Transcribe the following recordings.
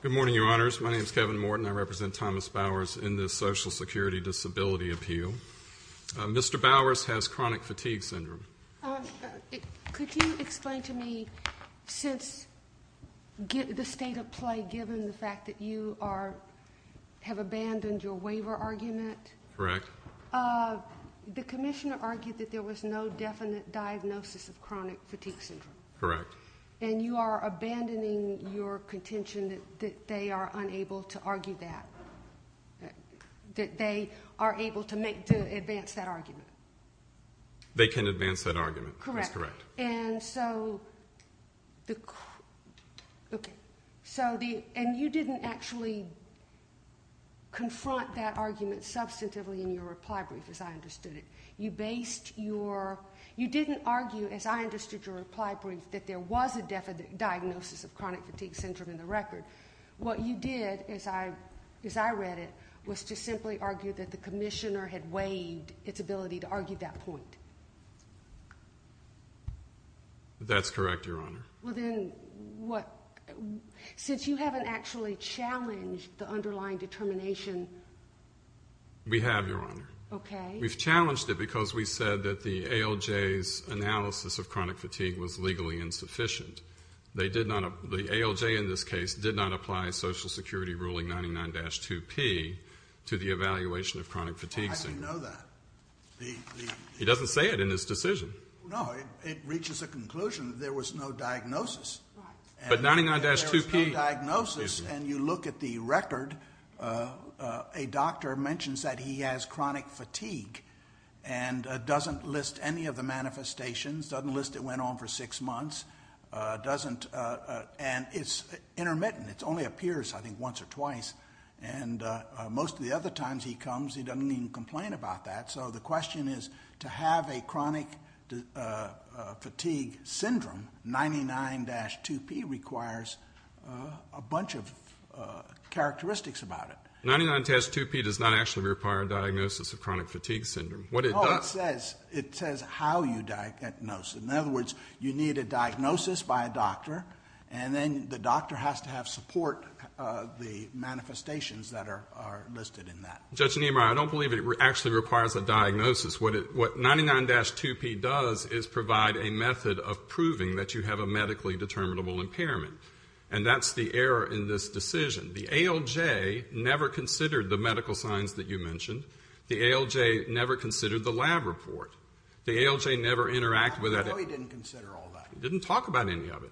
Good morning, your honors. My name is Kevin Morton. I represent Thomas Bowers in the Social Security Disability Appeal. Mr. Bowers has chronic fatigue syndrome. Could you explain to me, since the state of play, given the fact that you have abandoned your waiver argument, the commissioner argued that there was no definite diagnosis of chronic fatigue syndrome. And you are abandoning your contention that they are unable to argue that, that they are able to advance that argument. They can advance that argument, that's correct. And so, okay, so the, and you didn't actually confront that argument substantively in your reply brief as I understood it. You based your, you didn't argue, as I understood your reply brief, that there was a diagnosis of chronic fatigue syndrome in the record. What you did, as I read it, was to simply argue that the That's correct, your honor. Well then, what, since you haven't actually challenged the underlying determination. We have, your honor. Okay. We've challenged it because we said that the ALJ's analysis of chronic fatigue was legally insufficient. They did not, the ALJ in this case, did not apply Social Security ruling 99-2P to the evaluation of chronic fatigue syndrome. I didn't know that. He doesn't say it in his decision. No, it reaches a conclusion that there was no diagnosis. Right. But 99-2P. There was no diagnosis and you look at the record, a doctor mentions that he has chronic fatigue and doesn't list any of the manifestations, doesn't list it went on for six months, doesn't, and it's intermittent. It only appears, I think, once or twice. And most of the other times he comes, he doesn't even complain about that. So the question is, to have a chronic fatigue syndrome, 99-2P requires a bunch of characteristics about it. 99-2P does not actually require a diagnosis of chronic fatigue syndrome. What it does... No, it says how you diagnose it. In other words, you need a diagnosis by a doctor and then the doctor has to have support of the manifestations that are listed in that. Judge Niemeyer, I don't believe it actually requires a diagnosis. What 99-2P does is provide a method of proving that you have a medically determinable impairment. And that's the error in this decision. The ALJ never considered the medical signs that you mentioned. The ALJ never considered the lab report. The ALJ never interacted with that. I didn't know he didn't consider all that. He didn't talk about any of it.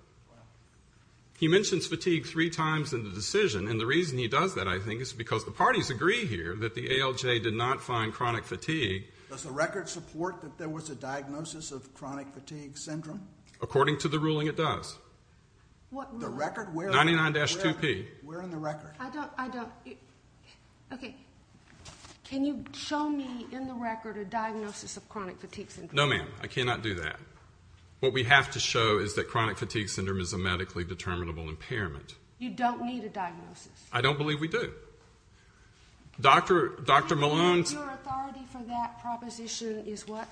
He mentions fatigue three times in the decision. And the reason he does that, I think, is because the parties agree here that the ALJ did not find chronic fatigue. Does the record support that there was a diagnosis of chronic fatigue syndrome? According to the ruling, it does. The record? 99-2P. Where in the record? I don't... Okay. Can you show me in the record a diagnosis of chronic fatigue syndrome? No, ma'am. I cannot do that. What we have to show is that chronic fatigue syndrome is a medically determinable impairment. You don't need a diagnosis. I don't believe we do. Dr. Malone's... Your authority for that proposition is what?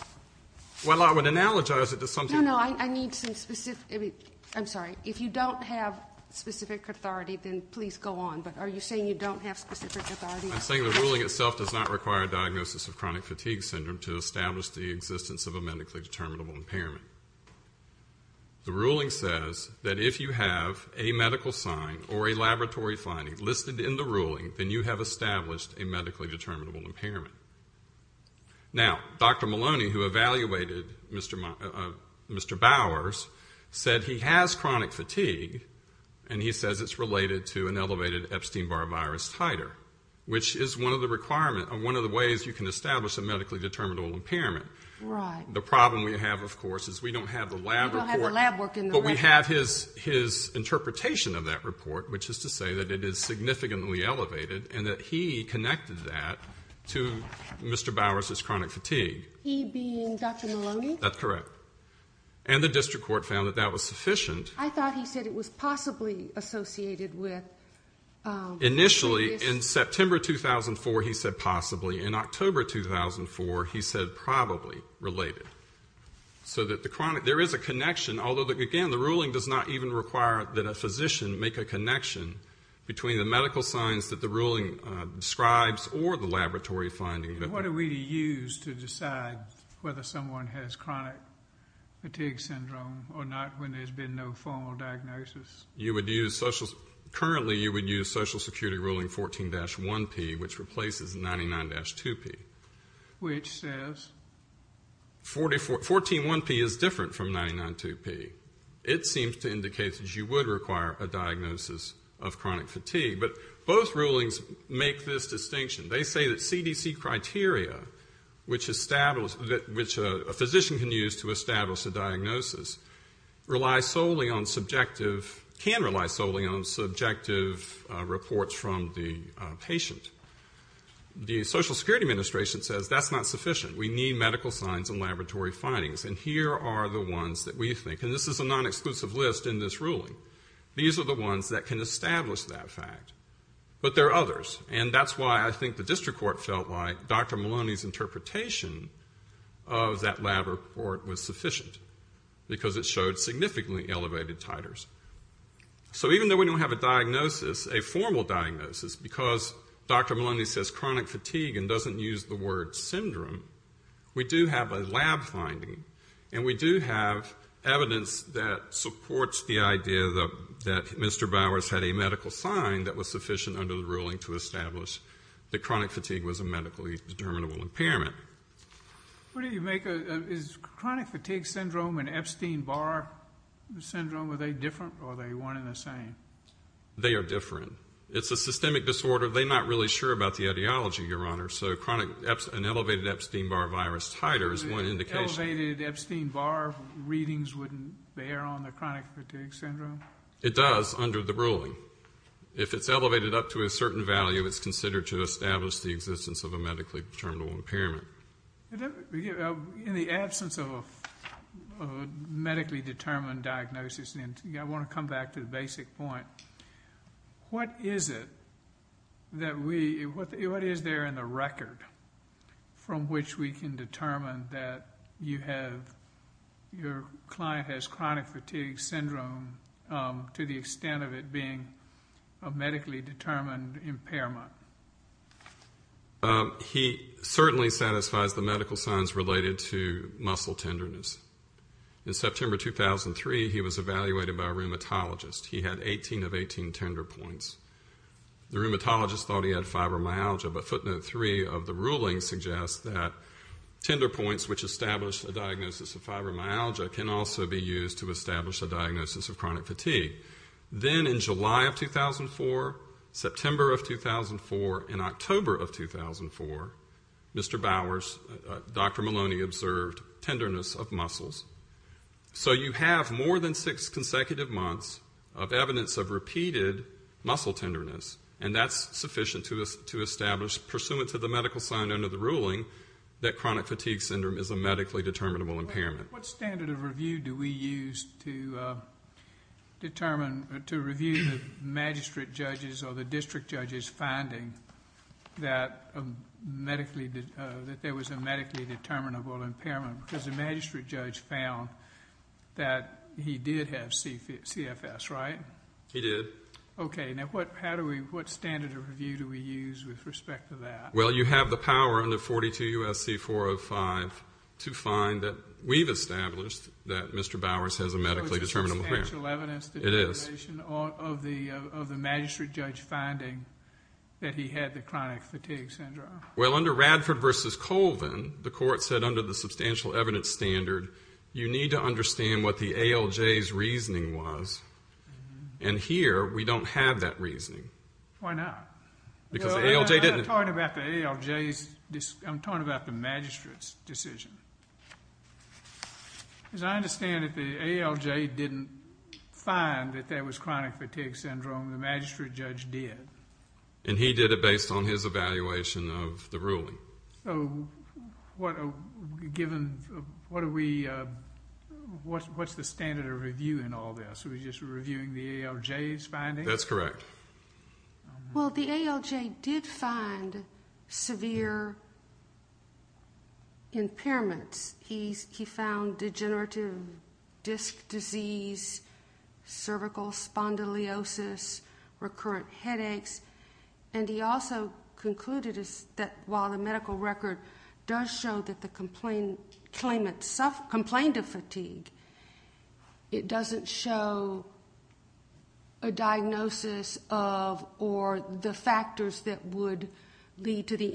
Well, I would analogize it to something... I'm sorry. If you don't have specific authority, then please go on. But are you saying you don't have specific authority? I'm saying the ruling itself does not require a diagnosis of chronic fatigue syndrome to establish the existence of a medically determinable impairment. The ruling says that if you have a medical sign or a laboratory finding listed in the ruling, then you have established a medically determinable impairment. Now, Dr. Malone, who evaluated Mr. Bowers, said he has the Epstein-Barr virus titer, which is one of the ways you can establish a medically determinable impairment. Right. The problem we have, of course, is we don't have the lab report, but we have his interpretation of that report, which is to say that it is significantly elevated and that he connected that to Mr. Bowers' chronic fatigue. He being Dr. Maloney? That's correct. And the district court found that that was sufficient. I thought he said it was possibly associated with... Initially, in September 2004, he said possibly. In October 2004, he said probably related. There is a connection, although, again, the ruling does not even require that a physician make a connection between the medical signs that the ruling describes or the laboratory finding. What do we use to decide whether someone has chronic fatigue syndrome or not when there's been no formal diagnosis? Currently, you would use Social Security ruling 14-1P, which replaces 99-2P. Which says? 14-1P is different from 99-2P. It seems to indicate that you would require a diagnosis of chronic fatigue. But both rulings make this distinction. They say that CDC criteria, which a physician can use to establish a diagnosis, can rely solely on subjective reports from the patient. The Social Security Administration says that's not sufficient. We need medical signs and laboratory findings. And here are the ones that we think. And this is a non-exclusive list in this ruling. These are the ones that can establish that fact. But there are others. And that's why I think the district court felt like Dr. Maloney's interpretation of that lab report was sufficient. Because it showed significantly elevated titers. So even though we don't have a diagnosis, a formal diagnosis, because Dr. Maloney says chronic fatigue and doesn't use the word syndrome, we do have a lab finding. And we do have evidence that supports the idea that Mr. Bowers had a medical sign that was sufficient under the ruling to establish that chronic fatigue was a medically determinable impairment. Is chronic fatigue syndrome and Epstein-Barr syndrome, are they different or are they one and the same? They are different. It's a systemic disorder. They're not really sure about the ideology, Your Honor. So an elevated Epstein-Barr virus titer is one indication. Elevated Epstein-Barr readings wouldn't bear on the chronic fatigue syndrome? It does under the ruling. So if it's elevated up to a certain value, it's considered to establish the existence of a medically determinable impairment. In the absence of a medically determined diagnosis, I want to come back to the basic point. What is it that we, what is there in the record from which we can determine that you have, your client has chronic fatigue syndrome to the extent of it being a medically determined impairment? He certainly satisfies the medical signs related to muscle tenderness. In September 2003, he was evaluated by a rheumatologist. He had 18 of 18 tender points. The rheumatologist thought he had fibromyalgia, but footnote three of the ruling suggests that tender points which establish a diagnosis of fibromyalgia can also be used to establish a diagnosis of chronic fatigue. Then in July of 2004, September of 2004, and October of 2004, Mr. Bowers, Dr. Maloney observed tenderness of muscles. So you have more than six consecutive months of evidence of repeated muscle tenderness, and that's sufficient to establish, pursuant to the medical sign under the ruling, that chronic fatigue syndrome is a medically determinable impairment. What standard of review do we use to determine, to review the magistrate judges or the district judges finding that medically, that there was a medically determinable impairment? He did. Okay. Now, what standard of review do we use with respect to that? Well, you have the power under 42 U.S.C. 405 to find that we've established that Mr. Bowers has a medically determinable impairment. So it's a substantial evidence determination of the magistrate judge finding that he had the chronic fatigue syndrome. Well, under Radford v. Colvin, the court said under the substantial evidence standard, you need to understand what the ALJ's reasoning was. And here, we don't have that reasoning. Why not? I'm talking about the magistrate's decision. As I understand it, the ALJ didn't find that there was chronic fatigue syndrome. The magistrate judge did. And he did it based on his evaluation of the ruling. Given, what are we, what's the standard of review in all this? Are we just reviewing the ALJ's findings? That's correct. Well, the ALJ did find severe impairments. He found degenerative disc disease, cervical spondylosis, recurrent headaches. And he also concluded that while the medical record does show that the claimant complained of fatigue, it doesn't show a diagnosis of or the factors that would lead to the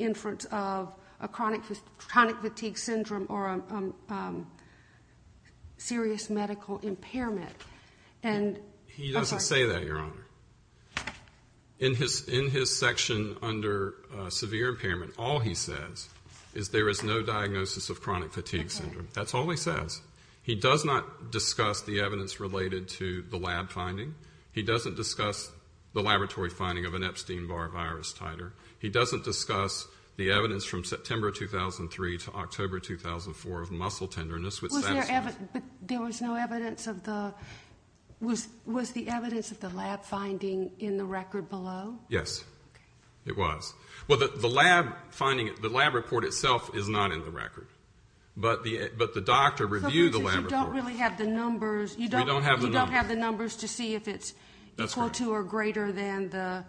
serious medical impairment. He doesn't say that, Your Honor. In his section under severe impairment, all he says is there is no diagnosis of chronic fatigue syndrome. That's all he says. He does not discuss the evidence related to the lab finding. He doesn't discuss the laboratory finding of an Epstein-Barr virus titer. He doesn't discuss the evidence from September 2003 to October 2004 of muscle tenderness. But there was no evidence of the, was the evidence of the lab finding in the record below? Yes, it was. Well, the lab finding, the lab report itself is not in the record. But the doctor reviewed the lab report. So you don't really have the numbers, you don't have the numbers to see if it's equal to or greater than the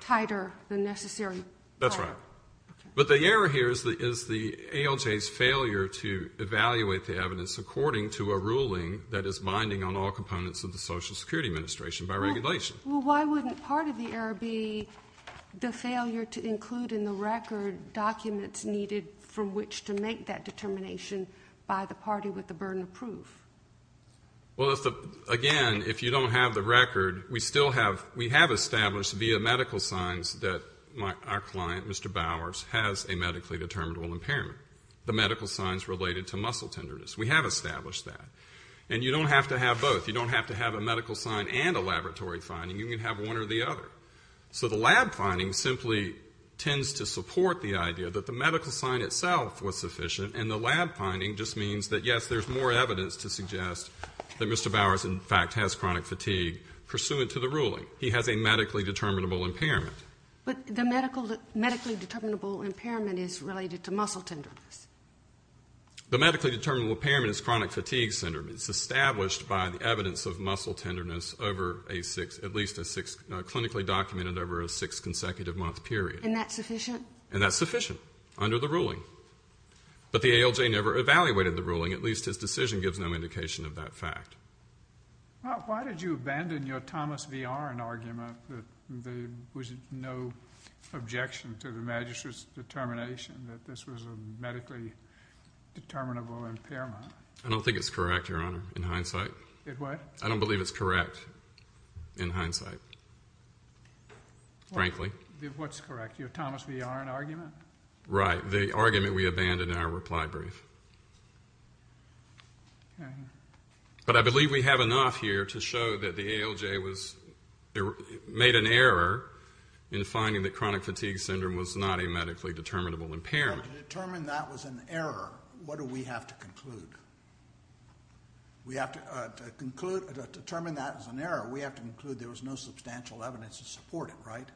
titer than necessary. That's right. But the error here is the ALJ's failure to evaluate the evidence according to a ruling that is binding on all components of the Social Security Administration by regulation. Well, why wouldn't part of the error be the failure to include in the record documents needed from which to make that the record, we still have, we have established via medical signs that our client, Mr. Bowers, has a medically determinable impairment. The medical signs related to muscle tenderness. We have established that. And you don't have to have both. You don't have to have a medical sign and a laboratory finding. You can have one or the other. So the lab finding simply tends to support the idea that the medical sign itself was sufficient and the lab finding just means that, yes, there's more evidence to suggest that Mr. Bowers, in fact, has chronic fatigue. Pursuant to the ruling, he has a medically determinable impairment. But the medically determinable impairment is related to muscle tenderness. The medically determinable impairment is chronic fatigue syndrome. It's established by the evidence of muscle tenderness over a six, at least a six, clinically documented over a six consecutive month period. And that's sufficient? And that's sufficient under the ruling. But the ALJ never evaluated the ruling. At least his decision gives no indication of that fact. Why did you abandon your Thomas V. Aron argument that there was no objection to the Magistrate's determination that this was a medically determinable impairment? I don't think it's correct, Your Honor, in hindsight. It what? I don't believe it's correct in hindsight, frankly. What's correct? Your Thomas V. Aron argument? Right. The argument we abandoned in our reply brief. But I believe we have enough here to show that the ALJ made an error in finding that chronic fatigue syndrome was not a medically determinable impairment. To determine that was an error, what do we have to conclude? To determine that was an error, we have to conclude there was no substantial evidence to support it, right?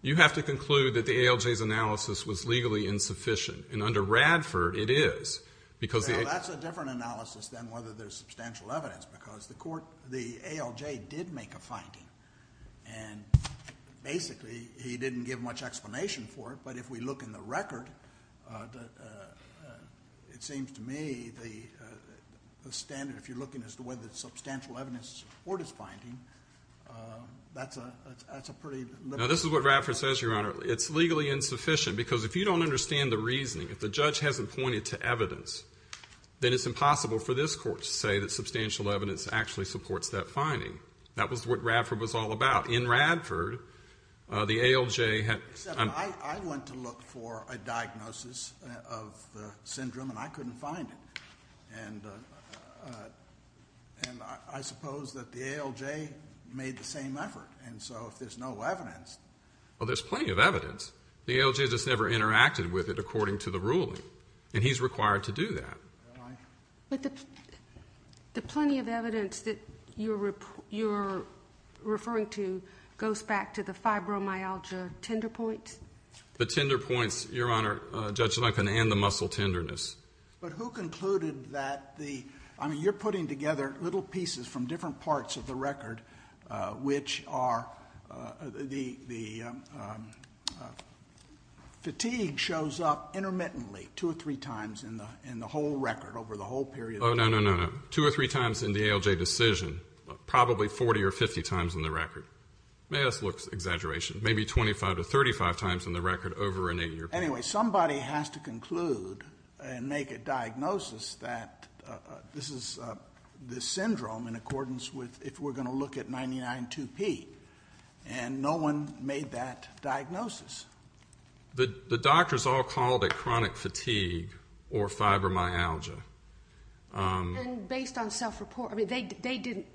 You have to conclude that the ALJ's analysis was legally insufficient. And under Radford, it is. Well, that's a different analysis than whether there's substantial evidence. Because the ALJ did make a finding. And basically, he didn't give much explanation for it. But if we look in the record, it seems to me the standard, if you're looking as to whether there's substantial evidence to support his finding, that's a pretty... Now, this is what Radford says, Your Honor. It's legally insufficient. Because if you don't understand the reasoning, if the judge hasn't pointed to evidence, then it's impossible for this Court to say that substantial evidence actually supports that finding. That was what Radford was all about. In Radford, the ALJ had... Except I went to look for a diagnosis of the syndrome, and I couldn't find it. And I suppose that the ALJ made the same effort. And so if there's no evidence... Well, there's plenty of evidence. The ALJ just never interacted with it according to the ruling. And he's required to do that. But the plenty of evidence that you're referring to goes back to the fibromyalgia tender points? The tender points, Your Honor, Judge Lincoln, and the muscle tenderness. But who concluded that the... I mean, you're putting together little pieces from different parts of the record which are... Fatigue shows up intermittently two or three times in the whole record over the whole period. Oh, no, no, no. Two or three times in the ALJ decision. Probably 40 or 50 times in the record. May us look at exaggeration. Maybe 25 to 35 times in the record over an eight-year period. Anyway, somebody has to conclude and make a diagnosis that this is the syndrome in accordance with if we're going to look at 99-2P. And no one made that diagnosis. The doctors all called it chronic fatigue or fibromyalgia. And based on self-report? I mean, they didn't...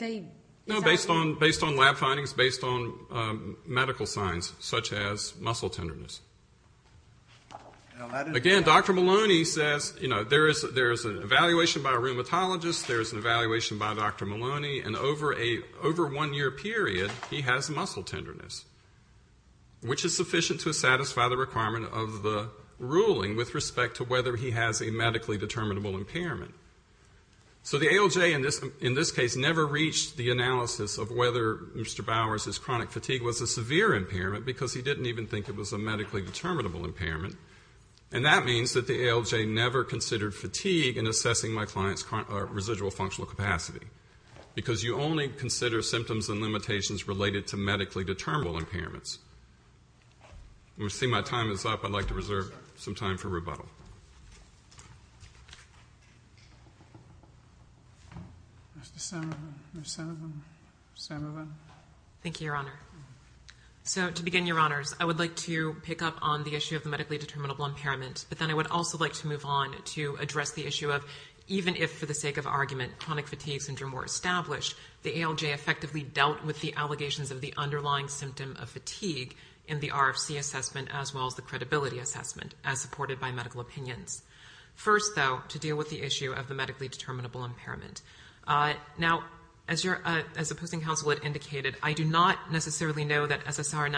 No, based on lab findings, based on medical signs such as muscle tenderness. Again, Dr. Maloney says there's an evaluation by a rheumatologist, there's an evaluation by Dr. Maloney, and over a one-year period, he has muscle tenderness, which is sufficient to satisfy the requirement of the ruling with respect to whether he has a medically determinable impairment. So the ALJ in this case never reached the analysis of whether Mr. Bowers' chronic fatigue was a severe impairment because he didn't even think it was a medically determinable impairment. And that means that the ALJ never considered fatigue in assessing my client's residual functional capacity. Because you only consider symptoms and limitations related to medically determinable impairments. I see my time is up. I'd like to reserve some time for rebuttal. Thank you, Your Honor. So to begin, Your Honors, I would like to pick up on the issue of the medically determinable impairment, but then I would also like to move on to address the issue of even if, for the sake of argument, chronic fatigue syndrome were established, the ALJ effectively dealt with the allegations of the underlying symptom of fatigue in the RFC assessment as well as the credibility assessment, as supported by medical opinions. First, though, to deal with the issue of the medically determinable impairment. Now, as the Posting Council had indicated, I do not necessarily know that SSR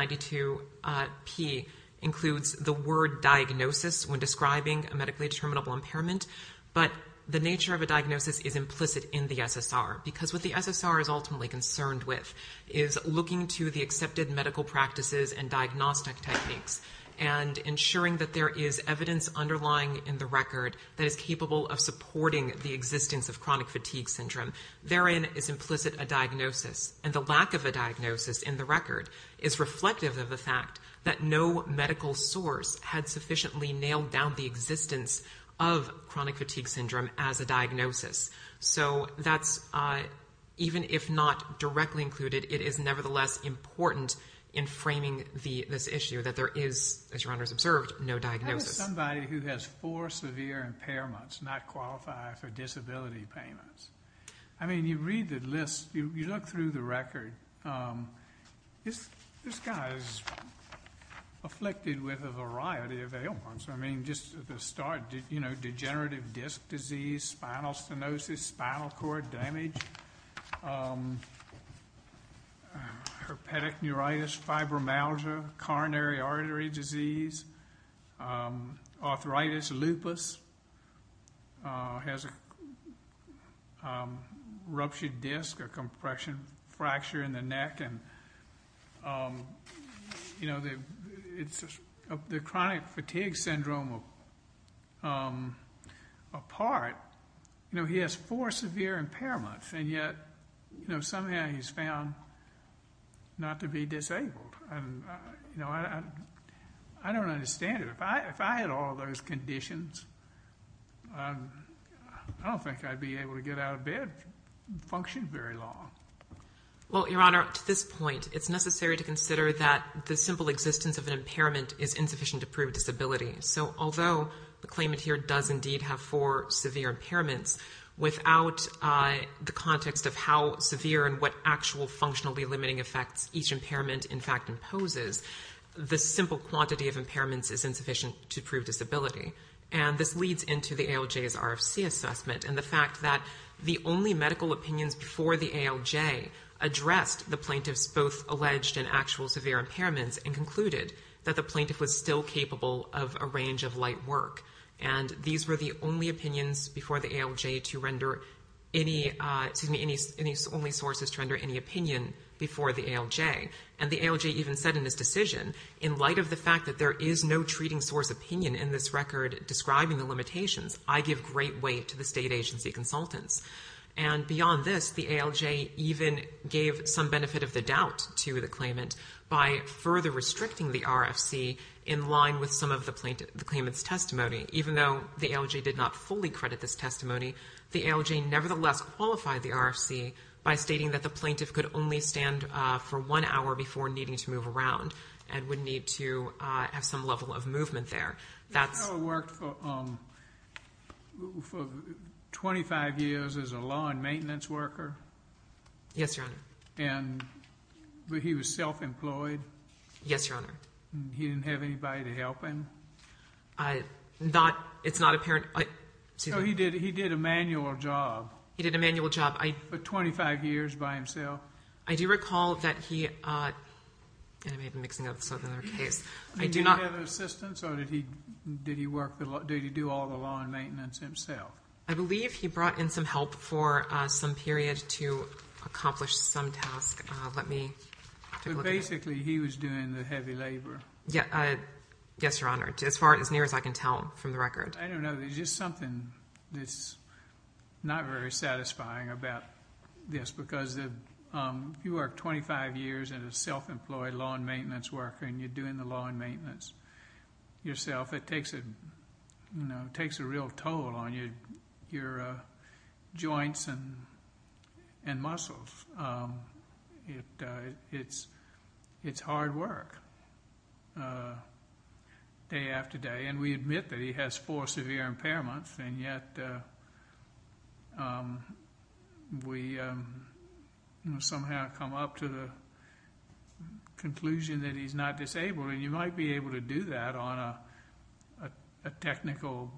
92P includes the word diagnosis when describing a medically determinable impairment, but the nature of a diagnosis is implicit in the SSR. Because what the SSR is ultimately concerned with is looking to the accepted medical practices and diagnostic techniques and ensuring that there is evidence underlying in the record that is capable of supporting the existence of chronic fatigue syndrome. Therein is implicit a diagnosis, and the lack of a diagnosis in the record is reflective of the fact that no medical source had sufficiently nailed down the existence of chronic fatigue syndrome as a diagnosis. So that's, even if not directly included, it is nevertheless important in framing this issue that there is, as Your Honors observed, no diagnosis. How does somebody who has four severe impairments not qualify for disability payments? I mean, you read the list, you look through the record, this guy is afflicted with a variety of ailments. I mean, just at the start, you know, degenerative disc disease, spinal stenosis, spinal cord damage, herpetic neuritis, fibromyalgia, coronary artery disease, arthritis, lupus, has a ruptured disc or compression fracture in the neck, and, you know, the chronic fatigue syndrome apart, you know, he has four severe impairments, and yet, you know, somehow he's found not to be disabled. You know, I don't understand it. If I had all those conditions, I don't think I'd be able to get out of bed and function very long. Well, Your Honor, to this point, it's necessary to consider that the simple existence of an impairment is insufficient to prove disability, so although the claimant here does indeed have four severe impairments, without the context of how severe and what actual functionally limiting effects each impairment, in fact, imposes, the simple quantity of impairments is insufficient to prove disability, and this leads into the ALJ's RFC assessment, and the fact that the only medical opinions before the ALJ addressed the plaintiff's both alleged and actual severe impairments and concluded that the plaintiff was still capable of a range of light work, and these were the only opinions before the ALJ to render any, excuse me, any only sources to render any opinion before the ALJ, and the ALJ even said in his decision, in light of the fact that there is no treating source opinion in this record describing the limitations, I give great weight to the state agency consultants, and beyond this, the ALJ even gave some benefit of the doubt to the claimant by further restricting the RFC in line with some of the claimant's testimony, even though the ALJ did not fully credit this testimony, the ALJ nevertheless qualified the RFC by stating that the plaintiff could only stand for one hour before needing to move around and would need to have some level of movement there. He worked for 25 years as a law and maintenance worker? Yes, Your Honor. But he was self-employed? Yes, Your Honor. He didn't have anybody to help him? It's not apparent. So he did a manual job? He did a manual job. For 25 years by himself? I do recall that he, and I may be mixing up this other case. Did he have assistance, or did he do all the law and maintenance himself? I believe he brought in some help for some period to accomplish some task. Let me take a look at that. But basically he was doing the heavy labor? Yes, Your Honor, as far and as near as I can tell from the record. I don't know. There's just something that's not very satisfying about this because you work 25 years as a self-employed law and maintenance worker and you're doing the law and maintenance yourself. It takes a real toll on your joints and muscles. It's hard work day after day. We admit that he has four severe impairments, and yet we somehow come up to the conclusion that he's not disabled, and you might be able to do that on a technical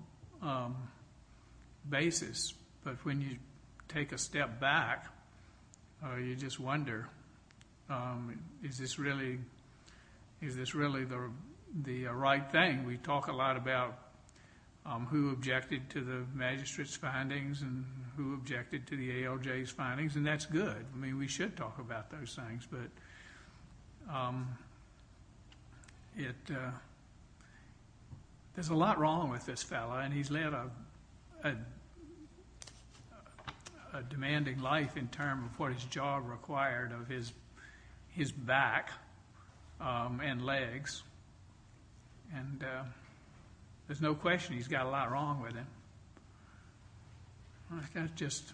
basis. But when you take a step back, you just wonder, is this really the right thing? We talk a lot about who objected to the magistrate's findings and who objected to the ALJ's findings, and that's good. I mean, we should talk about those things. But there's a lot wrong with this fellow, and he's led a demanding life in terms of what his job required of his back and legs. And there's no question he's got a lot wrong with it. I've got just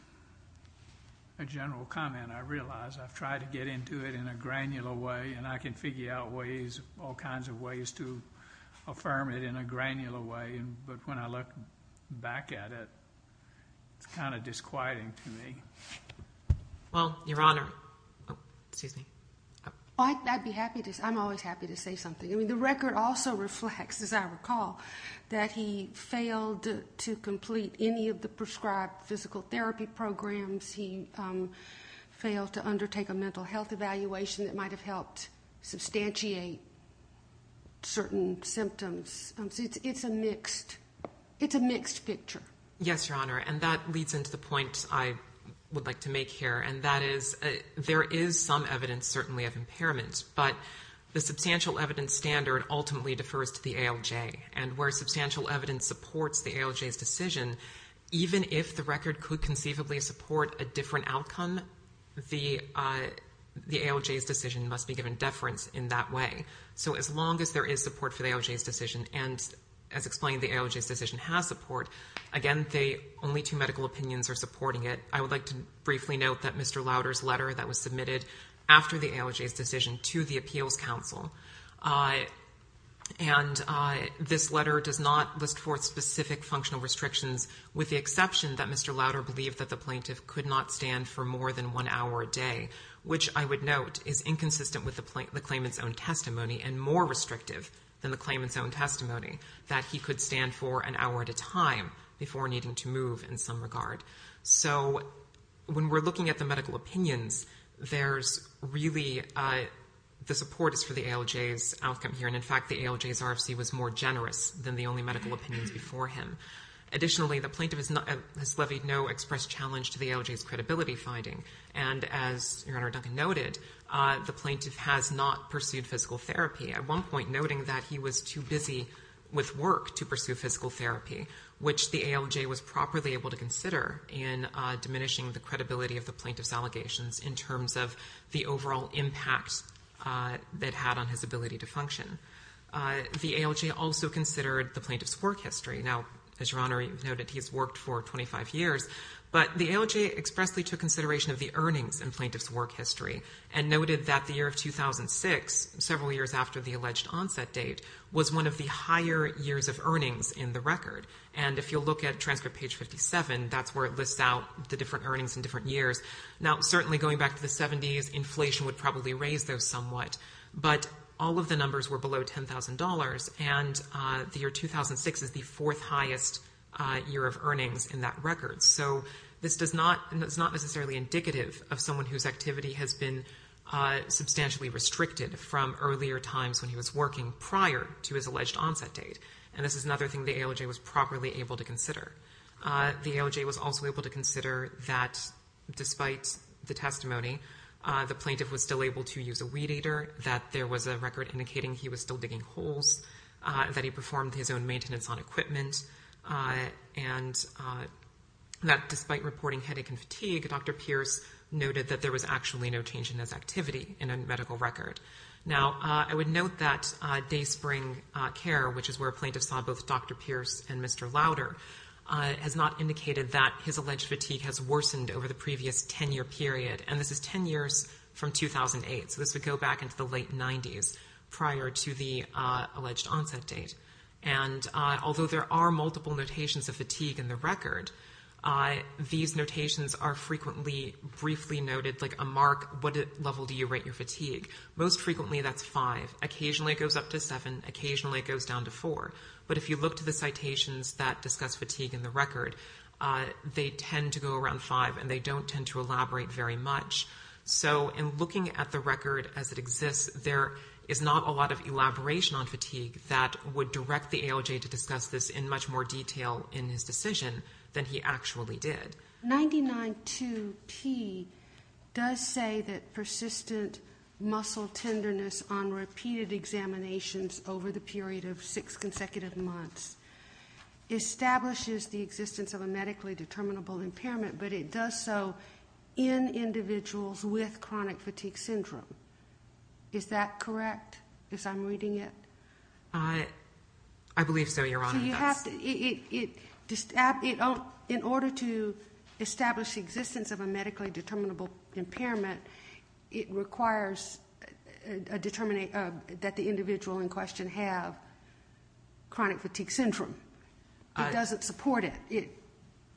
a general comment. I realize I've tried to get into it in a granular way, and I can figure out ways, all kinds of ways to affirm it in a granular way. But when I look back at it, it's kind of disquieting to me. Well, Your Honor, I'm always happy to say something. I mean, the record also reflects, as I recall, that he failed to complete any of the prescribed physical therapy programs. He failed to undertake a mental health evaluation that might have helped substantiate certain symptoms. It's a mixed picture. Yes, Your Honor, and that leads into the point I would like to make here, and that is there is some evidence certainly of impairment, but the substantial evidence standard ultimately defers to the ALJ, and where substantial evidence supports the ALJ's decision, even if the record could conceivably support a different outcome, the ALJ's decision must be given deference in that way. So as long as there is support for the ALJ's decision, and as explained, the ALJ's decision has support, again, only two medical opinions are supporting it. I would like to briefly note that Mr. Lauder's letter that was submitted after the ALJ's decision to the Appeals Council, and this letter does not list forth specific functional restrictions, with the exception that Mr. Lauder believed that the plaintiff could not stand for more than one hour a day, which I would note is inconsistent with the claimant's own testimony and more restrictive than the claimant's own testimony, that he could stand for an hour at a time before needing to move in some regard. So when we're looking at the medical opinions, there's really the support is for the ALJ's outcome here, and in fact the ALJ's RFC was more generous than the only medical opinions before him. Additionally, the plaintiff has levied no express challenge to the ALJ's credibility finding, and as Your Honor Duncan noted, the plaintiff has not pursued physical therapy, at one point noting that he was too busy with work to pursue physical therapy, which the ALJ was properly able to consider in diminishing the credibility of the plaintiff's allegations in terms of the overall impact that had on his ability to function. The ALJ also considered the plaintiff's work history. Now, as Your Honor noted, he's worked for 25 years, but the ALJ expressly took consideration of the earnings in plaintiff's work history and noted that the year of 2006, several years after the alleged onset date, was one of the higher years of earnings in the record. And if you'll look at transcript page 57, that's where it lists out the different earnings in different years. Now, certainly going back to the 70s, inflation would probably raise those somewhat, but all of the numbers were below $10,000, and the year 2006 is the fourth highest year of earnings in that record. So this is not necessarily indicative of someone whose activity has been substantially restricted from earlier times when he was working prior to his alleged onset date, and this is another thing the ALJ was properly able to consider. The ALJ was also able to consider that despite the testimony, the plaintiff was still able to use a weed eater, that there was a record indicating he was still digging holes, that he performed his own maintenance on equipment, and that despite reporting headache and fatigue, Dr. Pierce noted that there was actually no change in his activity in a medical record. Now, I would note that day spring care, which is where plaintiffs saw both Dr. Pierce and Mr. Lauder, has not indicated that his alleged fatigue has worsened over the previous 10-year period, and this is 10 years from 2008, so this would go back into the late 90s, prior to the alleged onset date. And although there are multiple notations of fatigue in the record, these notations are frequently briefly noted, like a mark, what level do you rate your fatigue? Most frequently, that's five. Occasionally, it goes up to seven. Occasionally, it goes down to four. But if you look to the citations that discuss fatigue in the record, they tend to go around five, and they don't tend to elaborate very much. So in looking at the record as it exists, there is not a lot of elaboration on fatigue that would direct the ALJ to discuss this in much more detail in his decision than he actually did. 99.2p does say that persistent muscle tenderness on repeated examinations over the period of six consecutive months establishes the existence of a medically determinable impairment, but it does so in individuals with chronic fatigue syndrome. Is that correct as I'm reading it? I believe so, Your Honor. So you have to ‑‑ in order to establish the existence of a medically determinable impairment, it requires that the individual in question have chronic fatigue syndrome. It doesn't support it.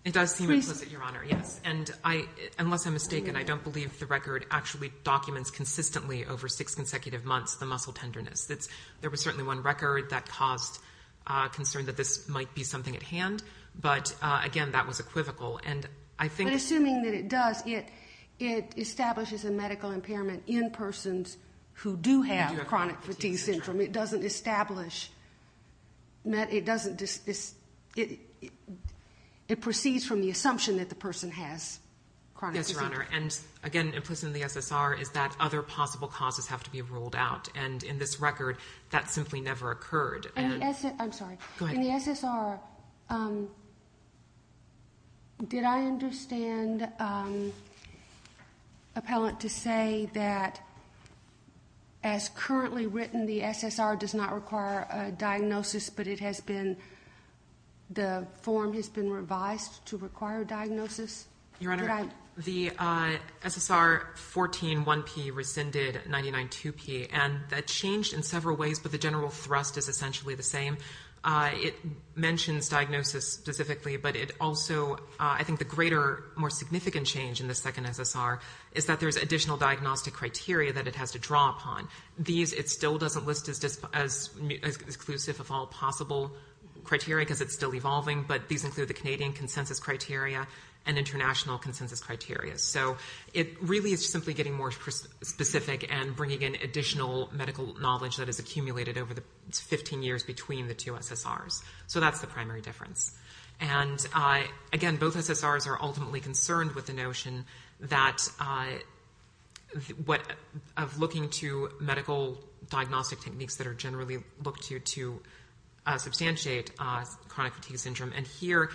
It does seem explicit, Your Honor, yes. And unless I'm mistaken, I don't believe the record actually documents consistently over six consecutive months the muscle tenderness. There was certainly one record that caused concern that this might be something at hand, but, again, that was equivocal. But assuming that it does, it establishes a medical impairment in persons who do have chronic fatigue syndrome. It doesn't establish ‑‑ it proceeds from the assumption that the person has chronic fatigue. Yes, Your Honor. And, again, implicit in the SSR is that other possible causes have to be ruled out. And in this record, that simply never occurred. I'm sorry. Go ahead. In the SSR, did I understand appellant to say that, as currently written, the SSR does not require a diagnosis, but it has been ‑‑ the form has been revised to require diagnosis? Your Honor, the SSR 14.1p rescinded 99.2p, and that changed in several ways, but the general thrust is essentially the same. It mentions diagnosis specifically, but it also ‑‑ I think the greater, more significant change in the second SSR is that there's additional diagnostic criteria that it has to draw upon. These it still doesn't list as exclusive of all possible criteria because it's still evolving, but these include the Canadian consensus criteria and international consensus criteria. So it really is simply getting more specific and bringing in additional medical knowledge that is accumulated over the 15 years between the two SSRs. So that's the primary difference. And, again, both SSRs are ultimately concerned with the notion that of looking to medical diagnostic techniques that are generally looked to to substantiate chronic fatigue syndrome, and here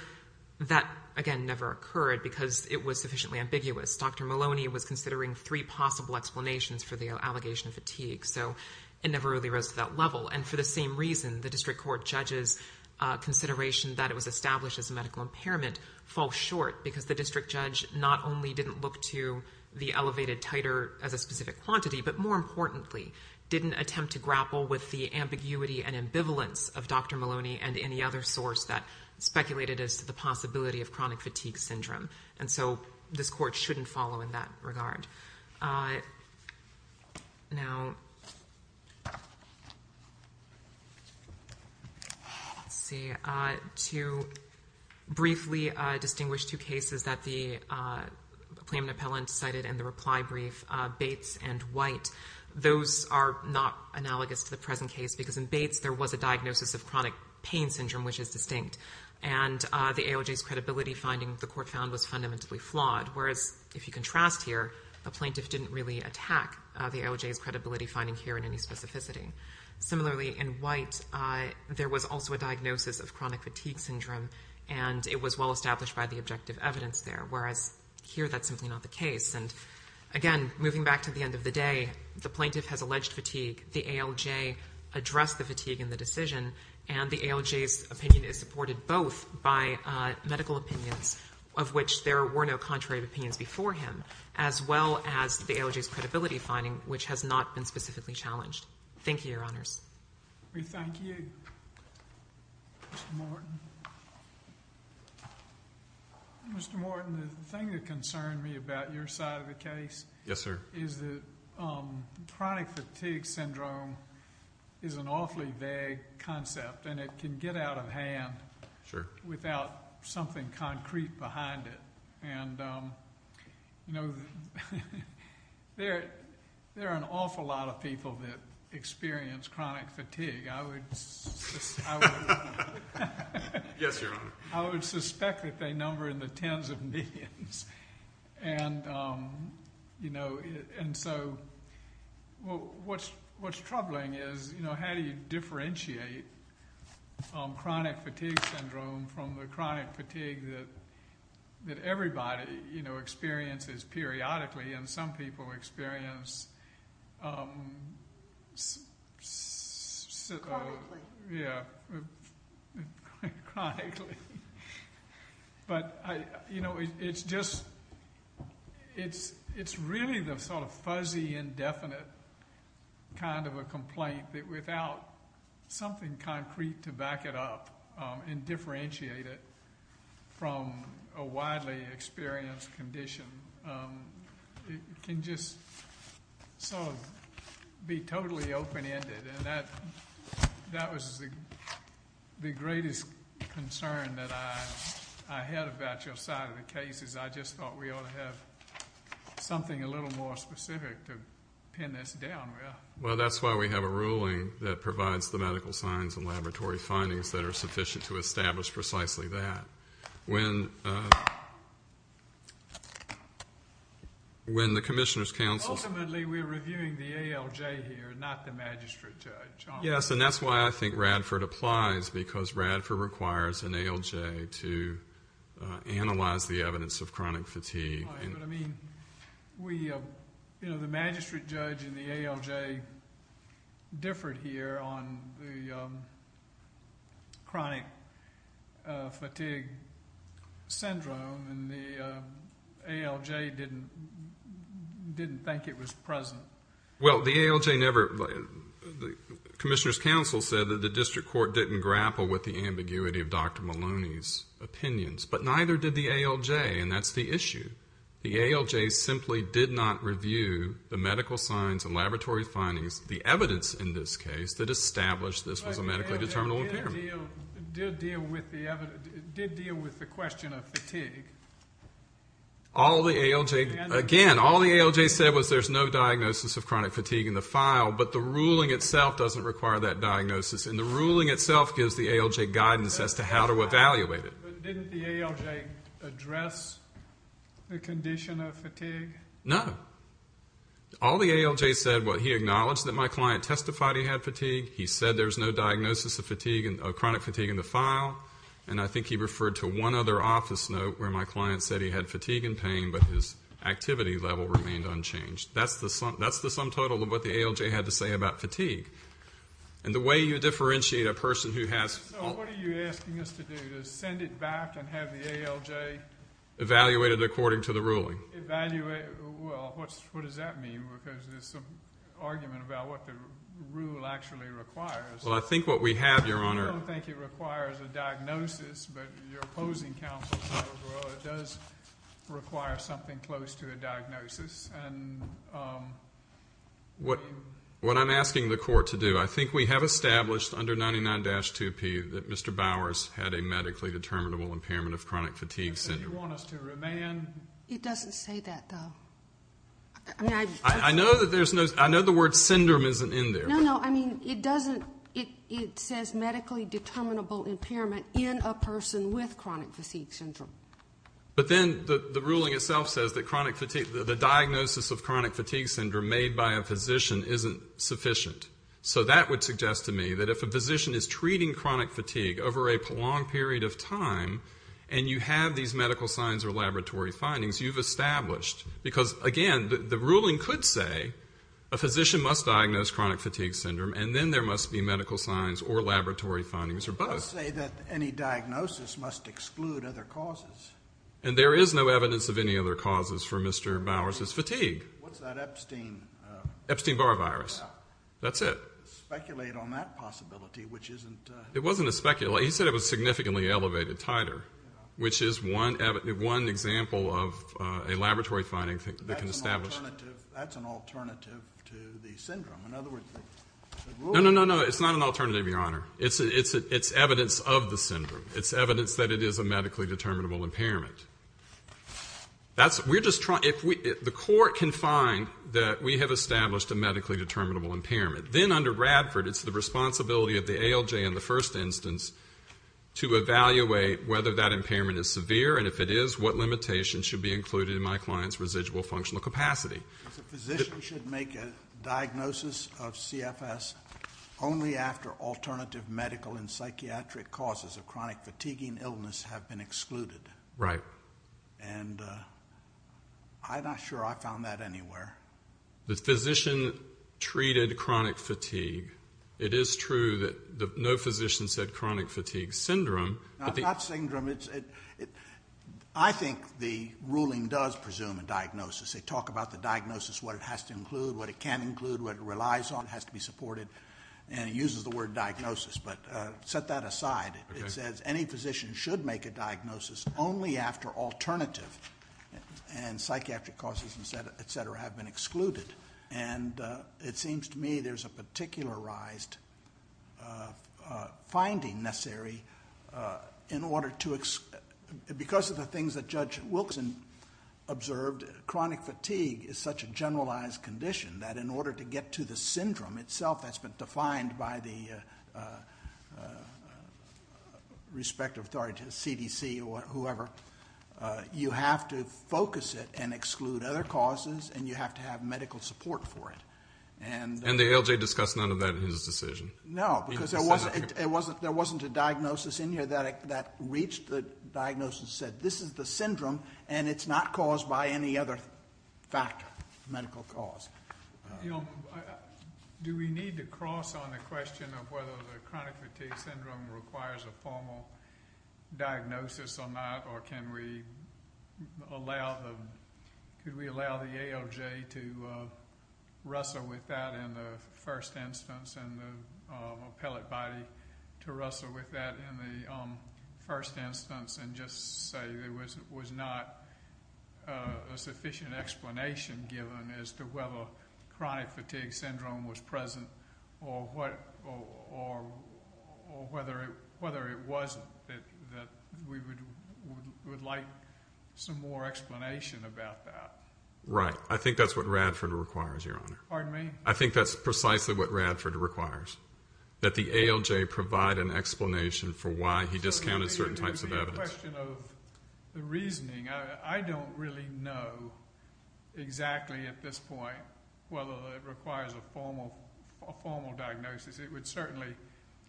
that, again, never occurred because it was sufficiently ambiguous. Dr. Maloney was considering three possible explanations for the allegation of fatigue, so it never really rose to that level. And for the same reason, the district court judge's consideration that it was established as a medical impairment falls short because the district judge not only didn't look to the elevated titer as a specific quantity, but, more importantly, didn't attempt to grapple with the ambiguity and ambivalence of Dr. Maloney and any other source that speculated as to the possibility of chronic fatigue syndrome. And so this court shouldn't follow in that regard. Now, let's see. To briefly distinguish two cases that the claimant appellant cited in the reply brief, Bates and White, those are not analogous to the present case because in Bates there was a diagnosis of chronic pain syndrome, which is distinct, and the ALJ's credibility finding, the court found, was fundamentally flawed, whereas, if you contrast here, the plaintiff didn't really attack the ALJ's credibility finding here in any specificity. Similarly, in White, there was also a diagnosis of chronic fatigue syndrome, and it was well established by the objective evidence there, whereas here that's simply not the case. And, again, moving back to the end of the day, the plaintiff has alleged fatigue, the ALJ addressed the fatigue in the decision, and the ALJ's opinion is supported both by medical opinions, of which there were no contrary opinions before him, as well as the ALJ's credibility finding, which has not been specifically challenged. Thank you, Your Honors. We thank you. Mr. Morton. Mr. Morton, the thing that concerned me about your side of the case is that chronic fatigue syndrome is an awfully vague concept, and it can get out of hand without something concrete behind it. And, you know, there are an awful lot of people that experience chronic fatigue. I would suspect that they number in the tens of millions. And, you know, and so what's troubling is, you know, how do you differentiate chronic fatigue syndrome from the chronic fatigue that everybody, you know, experiences periodically and some people experience chronically. Yeah, chronically. But, you know, it's really the sort of fuzzy, indefinite kind of a complaint that without something concrete to back it up and differentiate it from a widely experienced condition, it can just sort of be totally open-ended. And that was the greatest concern that I had about your side of the case, is I just thought we ought to have something a little more specific to pin this down with. Well, that's why we have a ruling that provides the medical signs and laboratory findings that are sufficient to establish precisely that. When the commissioners counsels... Yes, and that's why I think Radford applies, because Radford requires an ALJ to analyze the evidence of chronic fatigue. But, I mean, you know, the magistrate judge and the ALJ differed here on the chronic fatigue syndrome, and the ALJ didn't think it was present. Well, the ALJ never... The commissioners counsel said that the district court didn't grapple with the ambiguity of Dr. Maloney's opinions, but neither did the ALJ, and that's the issue. The ALJ simply did not review the medical signs and laboratory findings, the evidence in this case, that established this was a medically determinable impairment. But the ALJ did deal with the question of fatigue. All the ALJ... Again, all the ALJ said was there's no diagnosis of chronic fatigue in the file, but the ruling itself doesn't require that diagnosis, and the ruling itself gives the ALJ guidance as to how to evaluate it. But didn't the ALJ address the condition of fatigue? No. All the ALJ said, well, he acknowledged that my client testified he had fatigue, he said there's no diagnosis of chronic fatigue in the file, and I think he referred to one other office note where my client said he had fatigue and pain, but his activity level remained unchanged. That's the sum total of what the ALJ had to say about fatigue. And the way you differentiate a person who has... So what are you asking us to do, to send it back and have the ALJ... Evaluate it according to the ruling. Evaluate, well, what does that mean? Because there's some argument about what the rule actually requires. Well, I think what we have, Your Honor... I don't think it requires a diagnosis, but your opposing counsel said, well, it does require something close to a diagnosis. What I'm asking the court to do, I think we have established under 99-2P that Mr. Bowers had a medically determinable impairment of chronic fatigue syndrome. You want us to remand... It doesn't say that, though. I know the word syndrome isn't in there. No, no, I mean, it doesn't. It says medically determinable impairment in a person with chronic fatigue syndrome. But then the ruling itself says that the diagnosis of chronic fatigue syndrome made by a physician isn't sufficient. So that would suggest to me that if a physician is treating chronic fatigue over a prolonged period of time and you have these medical signs or laboratory findings, you've established, because, again, the ruling could say a physician must diagnose chronic fatigue syndrome and then there must be medical signs or laboratory findings or both. It does say that any diagnosis must exclude other causes. And there is no evidence of any other causes for Mr. Bowers' fatigue. What's that Epstein? Epstein-Barr virus. That's it. Speculate on that possibility, which isn't... It wasn't a speculate. He said it was significantly elevated titer, which is one example of a laboratory finding that can establish... That's an alternative to the syndrome. In other words, the ruling... No, no, no, no, it's not an alternative, Your Honor. It's evidence of the syndrome. It's evidence that it is a medically determinable impairment. We're just trying... If the court can find that we have established a medically determinable impairment, then under Radford it's the responsibility of the ALJ in the first instance to evaluate whether that impairment is severe, and if it is, what limitations should be included in my client's residual functional capacity. A physician should make a diagnosis of CFS only after alternative medical and psychiatric causes of chronic fatiguing illness have been excluded. Right. And I'm not sure I found that anywhere. The physician treated chronic fatigue. It is true that no physician said chronic fatigue syndrome. It's not syndrome. I think the ruling does presume a diagnosis. They talk about the diagnosis, what it has to include, what it can include, what it relies on, has to be supported, and it uses the word diagnosis. But set that aside. It says any physician should make a diagnosis only after alternative and psychiatric causes, et cetera, have been excluded. And it seems to me there's a particularized finding in order to exclude. Because of the things that Judge Wilson observed, chronic fatigue is such a generalized condition that in order to get to the syndrome itself that's been defined by the respective authority to the CDC or whoever, you have to focus it and exclude other causes, and you have to have medical support for it. And the ALJ discussed none of that in his decision. No, because there wasn't a diagnosis in here that reached the diagnosis and said this is the syndrome, and it's not caused by any other medical cause. Do we need to cross on the question of whether the chronic fatigue syndrome requires a formal diagnosis or not, or can we allow the ALJ to wrestle with that in the first instance and the appellate body to wrestle with that in the first instance and just say there was not a sufficient explanation given as to whether chronic fatigue syndrome was present or whether it wasn't, that we would like some more explanation about that? Right. I think that's what Radford requires, Your Honor. Pardon me? I think that's precisely what Radford requires, that the ALJ provide an explanation for why he discounted certain types of evidence. The question of the reasoning, I don't really know exactly at this point whether it requires a formal diagnosis. It would certainly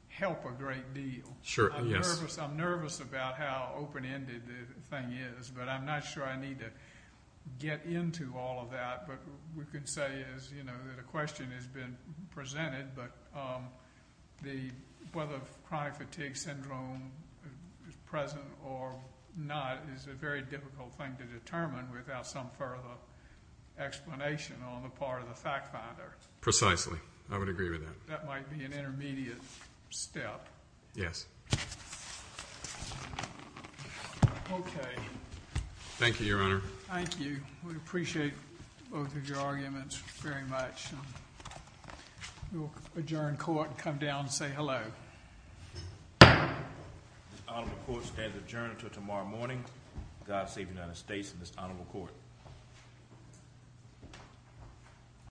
help a great deal. Sure, yes. I'm nervous about how open-ended the thing is, but I'm not sure I need to get into all of that. But we could say that a question has been presented, but whether chronic fatigue syndrome is present or not is a very difficult thing to determine without some further explanation on the part of the fact-finder. Precisely. I would agree with that. That might be an intermediate step. Yes. Okay. Thank you, Your Honor. Thank you. We appreciate both of your arguments very much. We will adjourn court and come down to say hello. This honorable court stands adjourned until tomorrow morning. God save the United States and this honorable court.